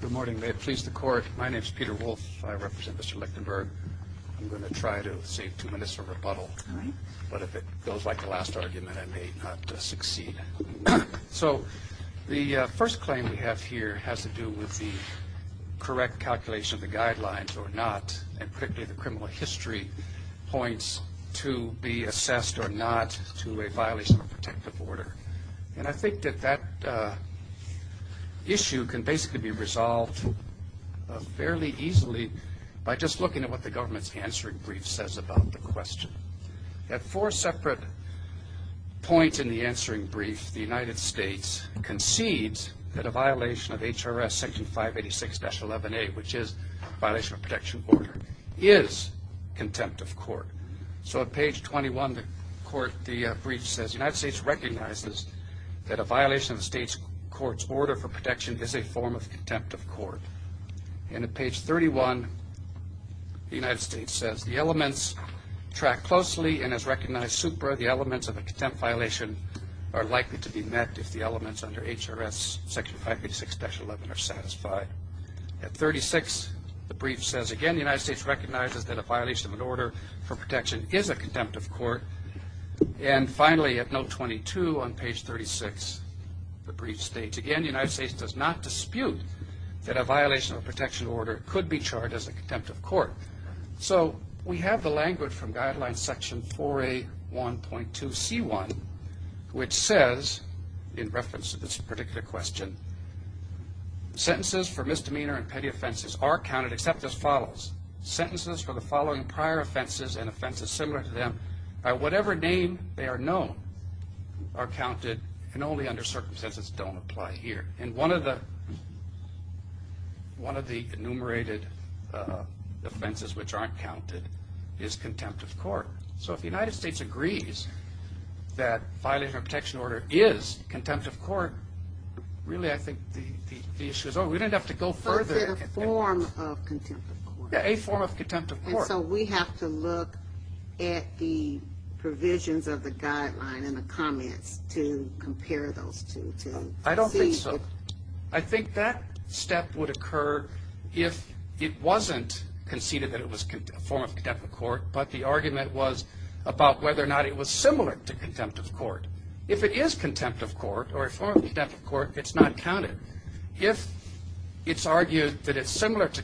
Good morning. May it please the Court. My name is Peter Wolfe. I represent Mr. Lichtenberg. I'm going to try to save two minutes of rebuttal, but if it goes like the last argument I may not succeed. So the first claim we have here has to do with the correct calculation of the guidelines or not, and particularly the criminal history points to be assessed or not to a violation of a protective order. And I think that that issue can basically be resolved fairly easily by just looking at what the government's answering brief says about the question. At four separate points in the answering brief, the United States concedes that a violation of HRS Section 586-11A, which is a violation of a protection order, is contempt of court. So at page 21, the court, the brief says the United States recognizes that a violation of the state's court's order for protection is a form of contempt of court. And at page 31, the United States says the elements track closely and has recognized super the elements of a contempt violation are likely to be met if the elements under HRS Section 586-11 are satisfied. At 36, the brief says again the United States recognizes that a violation of an order for protection is a contempt of court. And finally, at note 22 on page 36, the brief states again the United States does not dispute that a violation of a protection order could be charged as a contempt of court. So we have the language from Guidelines Section 4A1.2C1, which says, in reference to this particular question, sentences for misdemeanor and petty offenses are counted except as follows. Sentences for the following prior offenses and offenses similar to them, by whatever name they are known, are counted and only under circumstances don't apply here. And one of the enumerated offenses which aren't counted is contempt of court. So if the United States agrees that violation of a protection order is contempt of court, really I think the issue is over. We don't have to go further than contempt. But is it a form of contempt of court? A form of contempt of court. And so we have to look at the provisions of the guideline in the comments to compare those two. I don't think so. I think that step would occur if it wasn't conceded that it was a form of contempt of court, but the argument was about whether or not it was similar to contempt of court. If it is contempt of court or a form of contempt of court, it's not counted. If it's argued that it's similar to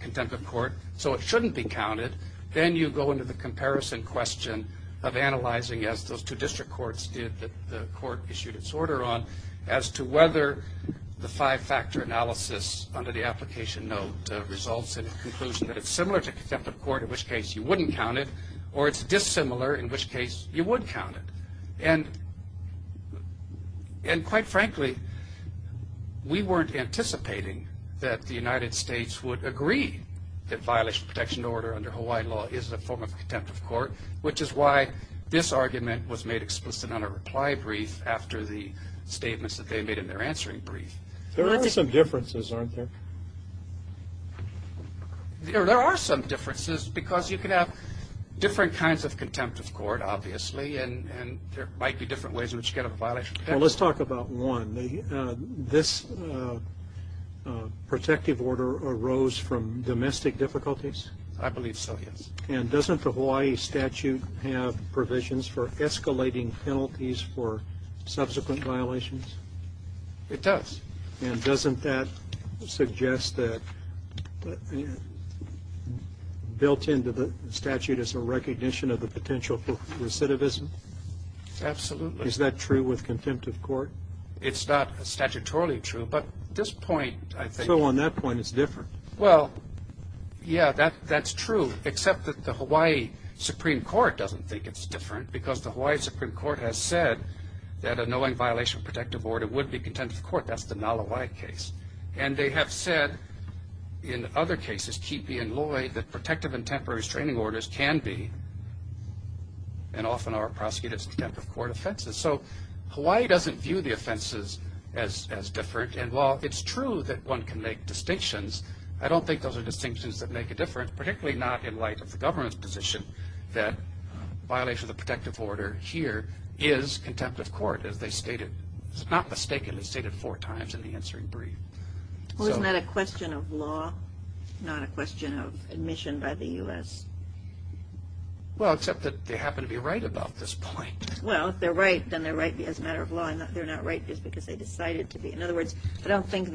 contempt of court so it shouldn't be counted, then you go into the comparison question of analyzing, as those two district courts did that the court issued its order on, as to whether the five-factor analysis under the application note results in a conclusion that it's similar to contempt of court, in which case you wouldn't count it, or it's dissimilar, in which case you would count it. And quite frankly, we weren't anticipating that the United States would agree that violation of protection order under Hawaiian law is a form of contempt of court, which is why this argument was made explicit on a reply brief after the statements that they made in their answering brief. There are some differences, aren't there? There are some differences because you can have different kinds of contempt of court, obviously, and there might be different ways in which you get a violation of protection order. Well, let's talk about one. This protective order arose from domestic difficulties? I believe so, yes. And doesn't the Hawaii statute have provisions for escalating penalties for subsequent violations? It does. And doesn't that suggest that built into the statute is a recognition of the potential for recidivism? Absolutely. Is that true with contempt of court? It's not statutorily true, but this point, I think. So on that point, it's different. Well, yeah, that's true, except that the Hawaii Supreme Court doesn't think it's different because the Hawaii Supreme Court has said that a knowing violation of protective order would be contempt of court. That's the Nalawai case. And they have said in other cases, Keepe and Lloyd, that protective and temporary restraining orders can be and often are prosecuted as contempt of court offenses. So Hawaii doesn't view the offenses as different, and while it's true that one can make distinctions, I don't think those are distinctions that make a difference, particularly not in light of the government's position that violation of the protective order here is contempt of court, as they stated, not mistakenly stated four times in the answering brief. Well, isn't that a question of law, not a question of admission by the U.S.? Well, except that they happen to be right about this point. Well, if they're right, then they're right as a matter of law. If they're not right, it's because they decided to be. In other words, I don't think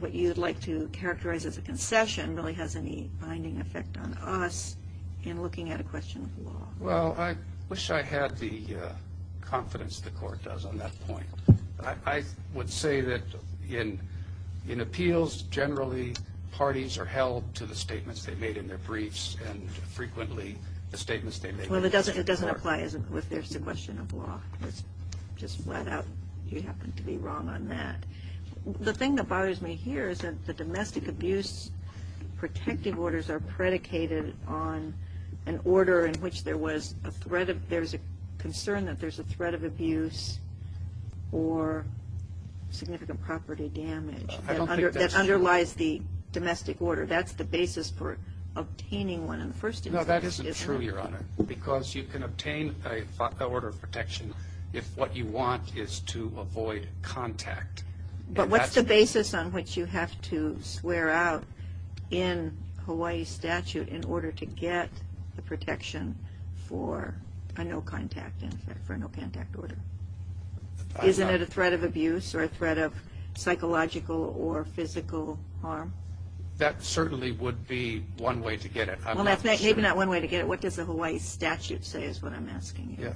what you'd like to characterize as a concession really has any binding effect on us in looking at a question of law. Well, I wish I had the confidence the court does on that point. I would say that in appeals, generally, parties are held to the statements they made in their briefs and frequently the statements they make in court. Well, it doesn't apply if there's a question of law. It's just flat out you happen to be wrong on that. The thing that bothers me here is that the domestic abuse protective orders are predicated on an order in which there was a threat of ‑‑ there was a concern that there's a threat of abuse or significant property damage. I don't think that's true. That underlies the domestic order. That's the basis for obtaining one in the first instance. No, that isn't true, Your Honor, because you can obtain an order of protection if what you want is to avoid contact. But what's the basis on which you have to swear out in Hawaii statute in order to get the protection for a no contact order? Isn't it a threat of abuse or a threat of psychological or physical harm? That certainly would be one way to get it. Maybe not one way to get it. What does the Hawaii statute say is what I'm asking you.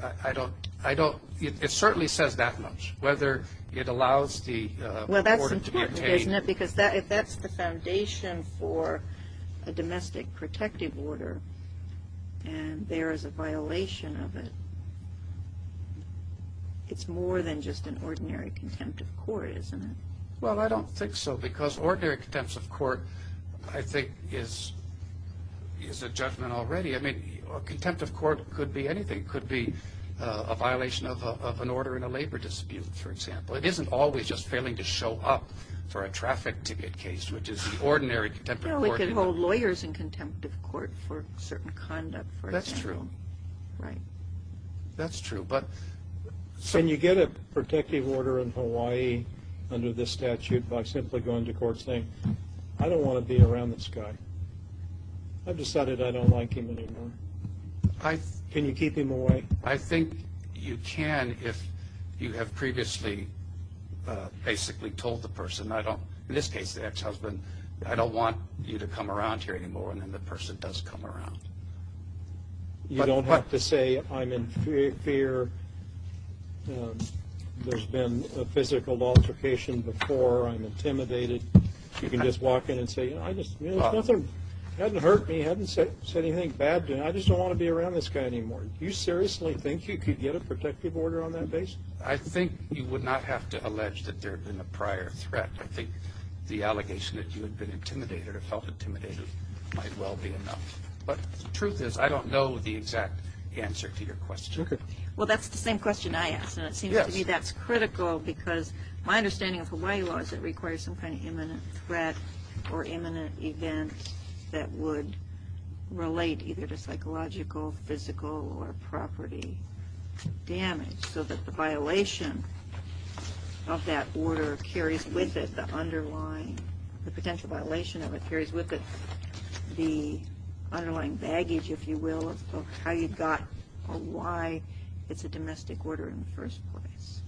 It certainly says that much, whether it allows the order to be obtained. Well, that's contempt, isn't it? Because if that's the foundation for a domestic protective order and there is a violation of it, it's more than just an ordinary contempt of court, isn't it? Well, I don't think so because ordinary contempt of court, I think, is a judgment already. I mean, contempt of court could be anything. It could be a violation of an order in a labor dispute, for example. It isn't always just failing to show up for a traffic ticket case, which is the ordinary contempt of court. Well, it could hold lawyers in contempt of court for certain conduct, for example. That's true. Right. That's true. Can you get a protective order in Hawaii under this statute by simply going to court saying, I don't want to be around this guy? I've decided I don't like him anymore. Can you keep him away? I think you can if you have previously basically told the person, in this case the ex-husband, I don't want you to come around here anymore, and then the person does come around. You don't have to say I'm in fear. There's been a physical altercation before. I'm intimidated. You can just walk in and say, It hasn't hurt me. It hasn't said anything bad to me. I just don't want to be around this guy anymore. Do you seriously think you could get a protective order on that basis? I think you would not have to allege that there had been a prior threat. I think the allegation that you had been intimidated or felt intimidated might well be enough. But the truth is I don't know the exact answer to your question. Well, that's the same question I asked, and it seems to me that's critical because my understanding of Hawaii law is it requires some kind of imminent threat or imminent event that would relate either to psychological, physical, or property damage so that the violation of that order carries with it the underlying, the potential violation of it carries with it the underlying baggage, if you will, of how you got a why it's a domestic order in the first place.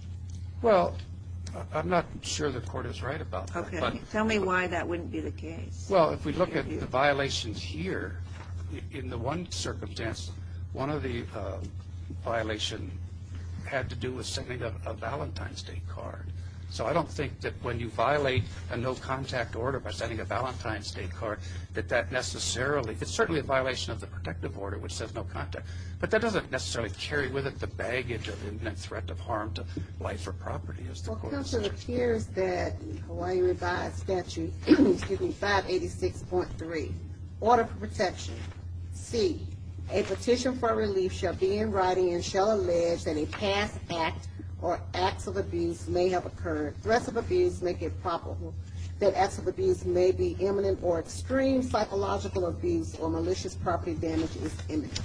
Well, I'm not sure the court is right about that. Okay. Tell me why that wouldn't be the case. Well, if we look at the violations here, in the one circumstance, one of the violations had to do with sending a Valentine's Day card. So I don't think that when you violate a no-contact order by sending a Valentine's Day card that that necessarily, it's certainly a violation of the protective order, which says no contact, but that doesn't necessarily carry with it the baggage or the imminent threat of harm to life or property. Well, it appears that the Hawaii Revised Statute 586.3, Order for Protection, C, a petition for relief shall be in writing and shall allege that a past act or acts of abuse may have occurred. Threats of abuse make it probable that acts of abuse may be imminent or extreme psychological abuse or malicious property damage is imminent.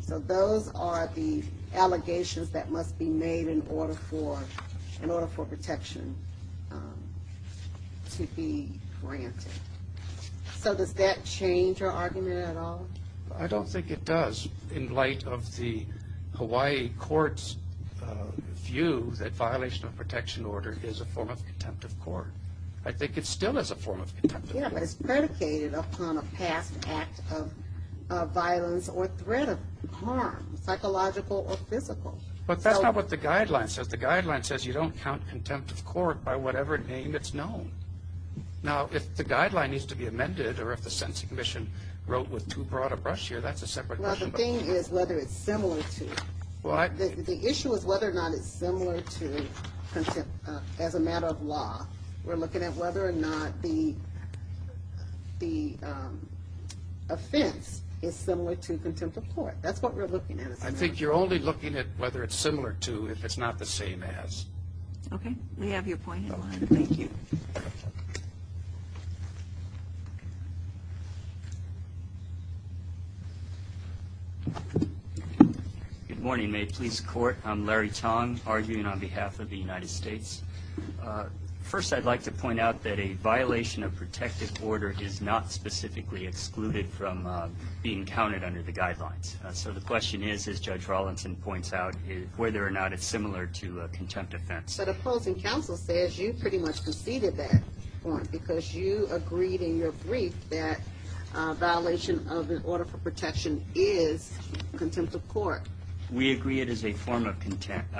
So those are the allegations that must be made in order for protection to be granted. So does that change your argument at all? I don't think it does in light of the Hawaii court's view that violation of protection order is a form of contempt of court. I think it still is a form of contempt of court. Yeah, but it's predicated upon a past act of violence or threat of harm, psychological or physical. But that's not what the guideline says. The guideline says you don't count contempt of court by whatever name it's known. Now, if the guideline needs to be amended or if the Sentencing Commission wrote with too broad a brush here, that's a separate question. Well, the thing is whether it's similar to it. The issue is whether or not it's similar to contempt as a matter of law. We're looking at whether or not the offense is similar to contempt of court. That's what we're looking at. I think you're only looking at whether it's similar to if it's not the same as. Okay, we have your point in line. Thank you. Good morning. May it please the Court. I'm Larry Tong, arguing on behalf of the United States. First, I'd like to point out that a violation of protective order is not specifically excluded from being counted under the guidelines. So the question is, as Judge Rawlinson points out, whether or not it's similar to a contempt offense. So the opposing counsel says you pretty much conceded that point because you agreed in your brief that a violation of an order for protection is contempt of court. We agree it is a form of contempt.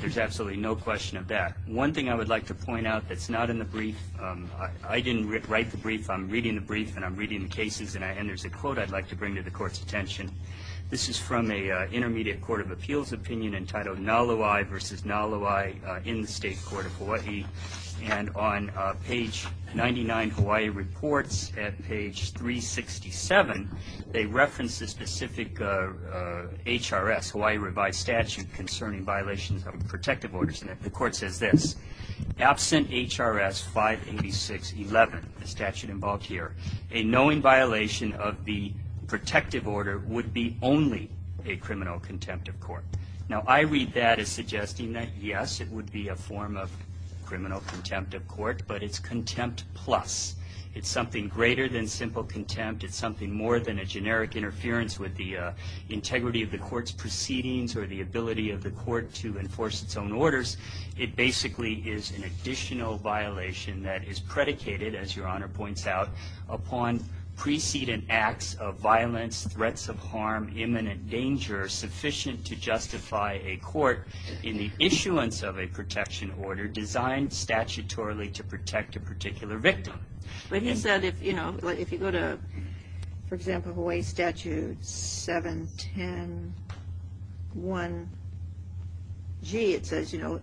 There's absolutely no question of that. One thing I would like to point out that's not in the brief, I didn't write the brief. I'm reading the brief and I'm reading the cases, and there's a quote I'd like to bring to the Court's attention. This is from an intermediate court of appeals opinion entitled Nalawai v. Nalawai in the State Court of Hawaii. And on page 99, Hawaii reports at page 367, they reference a specific HRS, Hawaii revised statute, concerning violations of protective orders. And the Court says this, absent HRS 586.11, the statute involved here, a knowing violation of the protective order would be only a criminal contempt of court. Now, I read that as suggesting that, yes, it would be a form of criminal contempt of court, but it's contempt plus. It's something greater than simple contempt. It's something more than a generic interference with the integrity of the court's proceedings or the ability of the court to enforce its own orders. It basically is an additional violation that is predicated, as Your Honor points out, upon precedent acts of violence, threats of harm, imminent danger, sufficient to justify a court in the issuance of a protection order designed statutorily to protect a particular victim. But he said if, you know, if you go to, for example, Hawaii Statute 710.1g, it says, you know,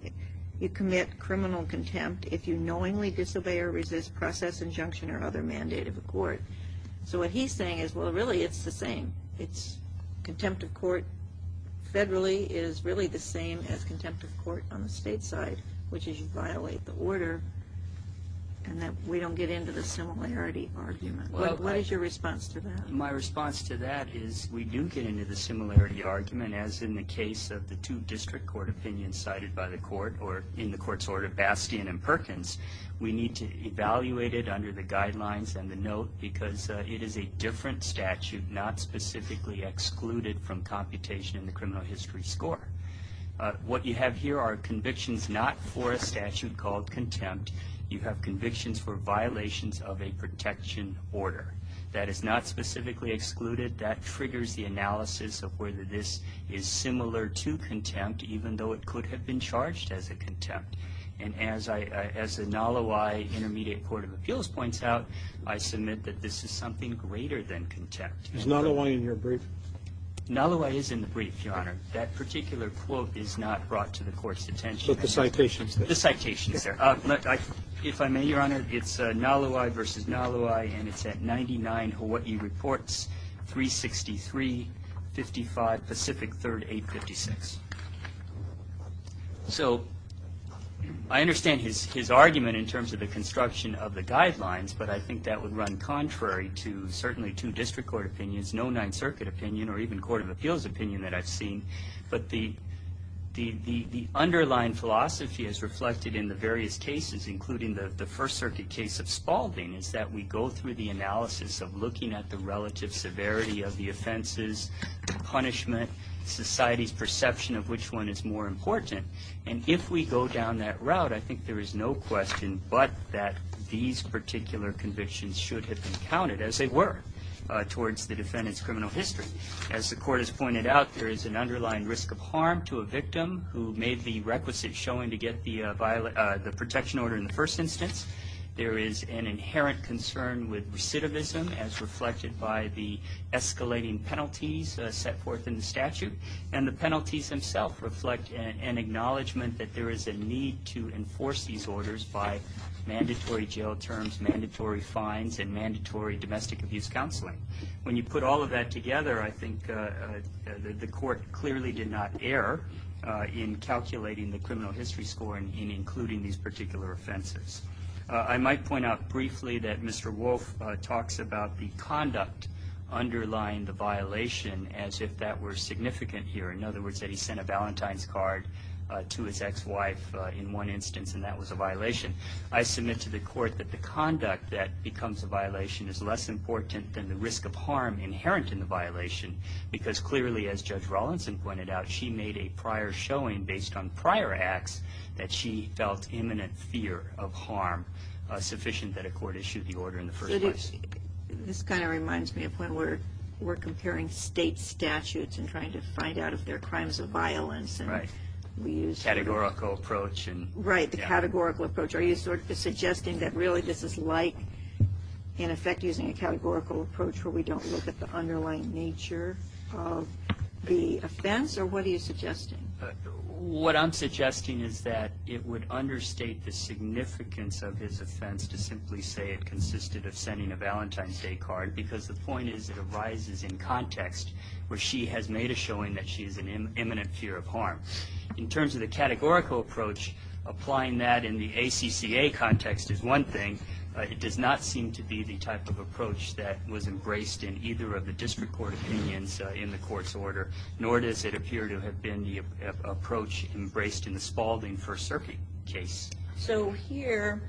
you commit criminal contempt if you knowingly disobey or resist process, injunction, or other mandate of a court. So what he's saying is, well, really, it's the same. It's contempt of court federally is really the same as contempt of court on the state side, which is you violate the order and that we don't get into the similarity argument. What is your response to that? My response to that is we do get into the similarity argument, as in the case of the two district court opinions cited by the court or in the court's order of Bastian and Perkins. We need to evaluate it under the guidelines and the note because it is a different statute, not specifically excluded from computation in the criminal history score. What you have here are convictions not for a statute called contempt. You have convictions for violations of a protection order. That is not specifically excluded. That triggers the analysis of whether this is similar to contempt, even though it could have been charged as a contempt. And as the Nalawai Intermediate Court of Appeals points out, I submit that this is something greater than contempt. Is Nalawai in your brief? Nalawai is in the brief, Your Honor. That particular quote is not brought to the court's attention. But the citation is there. The citation is there. If I may, Your Honor, it's Nalawai versus Nalawai, and it's at 99 Hawaii Reports, 363-55 Pacific 3rd 856. So I understand his argument in terms of the construction of the guidelines. But I think that would run contrary to certainly two district court opinions, no Ninth Circuit opinion, or even court of appeals opinion that I've seen. But the underlying philosophy as reflected in the various cases, including the First Circuit case of Spalding, is that we go through the analysis of looking at the relative severity of the offenses, punishment, society's perception of which one is more important. And if we go down that route, I think there is no question but that these particular convictions should have been counted, as they were, towards the defendant's criminal history. As the court has pointed out, there is an underlying risk of harm to a victim who made the requisite showing to get the protection order in the first instance. There is an inherent concern with recidivism, as reflected by the escalating penalties set forth in the statute. And the penalties themselves reflect an acknowledgment that there is a need to enforce these orders by mandatory jail terms, mandatory fines, and mandatory domestic abuse counseling. When you put all of that together, I think the court clearly did not err in calculating the criminal history score in including these particular offenses. I might point out briefly that Mr. Wolfe talks about the conduct underlying the violation as if that were significant here. In other words, that he sent a Valentine's card to his ex-wife in one instance, and that was a violation. I submit to the court that the conduct that becomes a violation is less important than the risk of harm inherent in the violation. Because clearly, as Judge Rawlinson pointed out, she made a prior showing, based on prior acts, that she felt imminent fear of harm sufficient that a court issued the order in the first place. This kind of reminds me of when we're comparing state statutes and trying to find out if they're crimes of violence. Right. Categorical approach. Right. The categorical approach. Are you sort of suggesting that really this is like, in effect, using a categorical approach where we don't look at the underlying nature of the offense? Or what are you suggesting? What I'm suggesting is that it would understate the significance of his offense to simply say it consisted of sending a Valentine's Day card, because the point is it arises in context where she has made a showing that she is in imminent fear of harm. In terms of the categorical approach, applying that in the ACCA context is one thing. It does not seem to be the type of approach that was embraced in either of the district court opinions in the court's order, nor does it appear to have been the approach embraced in the Spaulding-First Serpi case. So here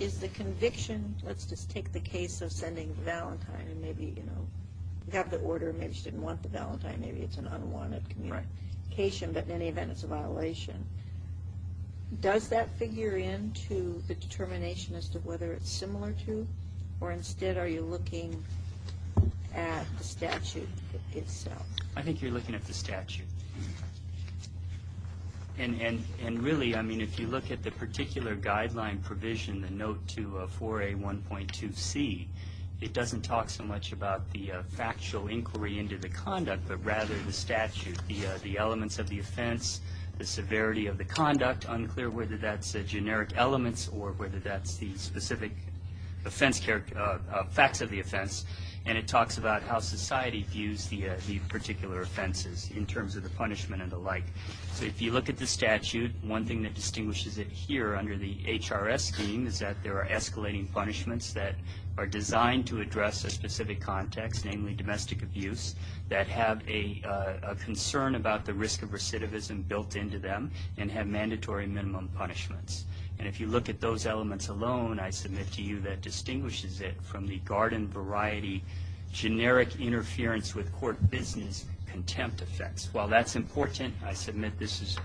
is the conviction. Let's just take the case of sending Valentine, and maybe, you know, you have the order. Maybe she didn't want the Valentine. Maybe it's an unwanted communication. But in any event, it's a violation. Does that figure into the determination as to whether it's similar to, or instead are you looking at the statute itself? I think you're looking at the statute. And really, I mean, if you look at the particular guideline provision, the note to 4A.1.2c, it doesn't talk so much about the factual inquiry into the conduct, but rather the statute, the elements of the offense, the severity of the conduct, unclear whether that's generic elements or whether that's the specific facts of the offense. And it talks about how society views the particular offenses in terms of the punishment and the like. So if you look at the statute, one thing that distinguishes it here under the HRS scheme is that there are escalating punishments that are designed to address a specific context, namely domestic abuse, that have a concern about the risk of recidivism built into them and have mandatory minimum punishments. And if you look at those elements alone, I submit to you that distinguishes it from the garden variety, generic interference with court business contempt effects. While that's important, I submit this is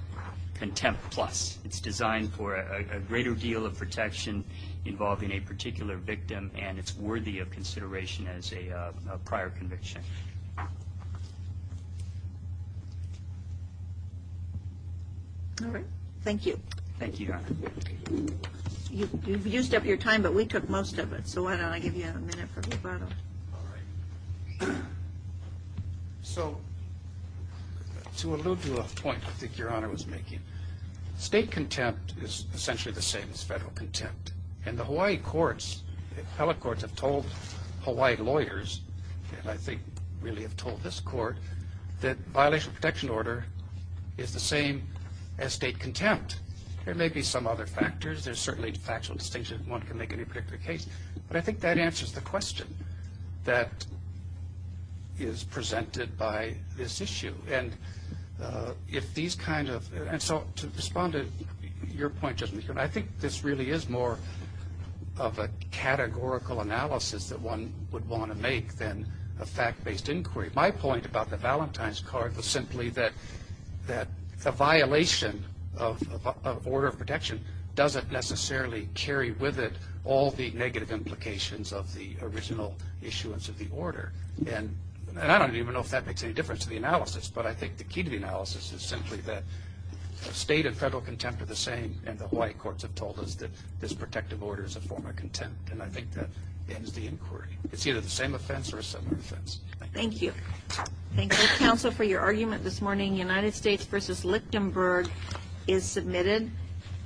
contempt plus. It's designed for a greater deal of protection involving a particular victim and it's worthy of consideration as a prior conviction. All right. Thank you. Thank you, Your Honor. You've used up your time, but we took most of it, so why don't I give you a minute for rebuttal. All right. So to allude to a point I think Your Honor was making, state contempt is essentially the same as federal contempt. And the Hawaii courts, the appellate courts, have told Hawaii lawyers, and I think really have told this court, that violation of protection order is the same as state contempt. There may be some other factors. There's certainly a factual distinction if one can make any particular case. But I think that answers the question that is presented by this issue. And so to respond to your point, I think this really is more of a categorical analysis that one would want to make than a fact-based inquiry. My point about the Valentine's card was simply that the violation of order of protection doesn't necessarily carry with it all the negative implications of the original issuance of the order. And I don't even know if that makes any difference to the analysis, but I think the key to the analysis is simply that state and federal contempt are the same, and the Hawaii courts have told us that this protective order is a form of contempt. And I think that ends the inquiry. It's either the same offense or a similar offense. Thank you. Thank you, counsel, for your argument this morning. United States v. Lichtenberg is submitted.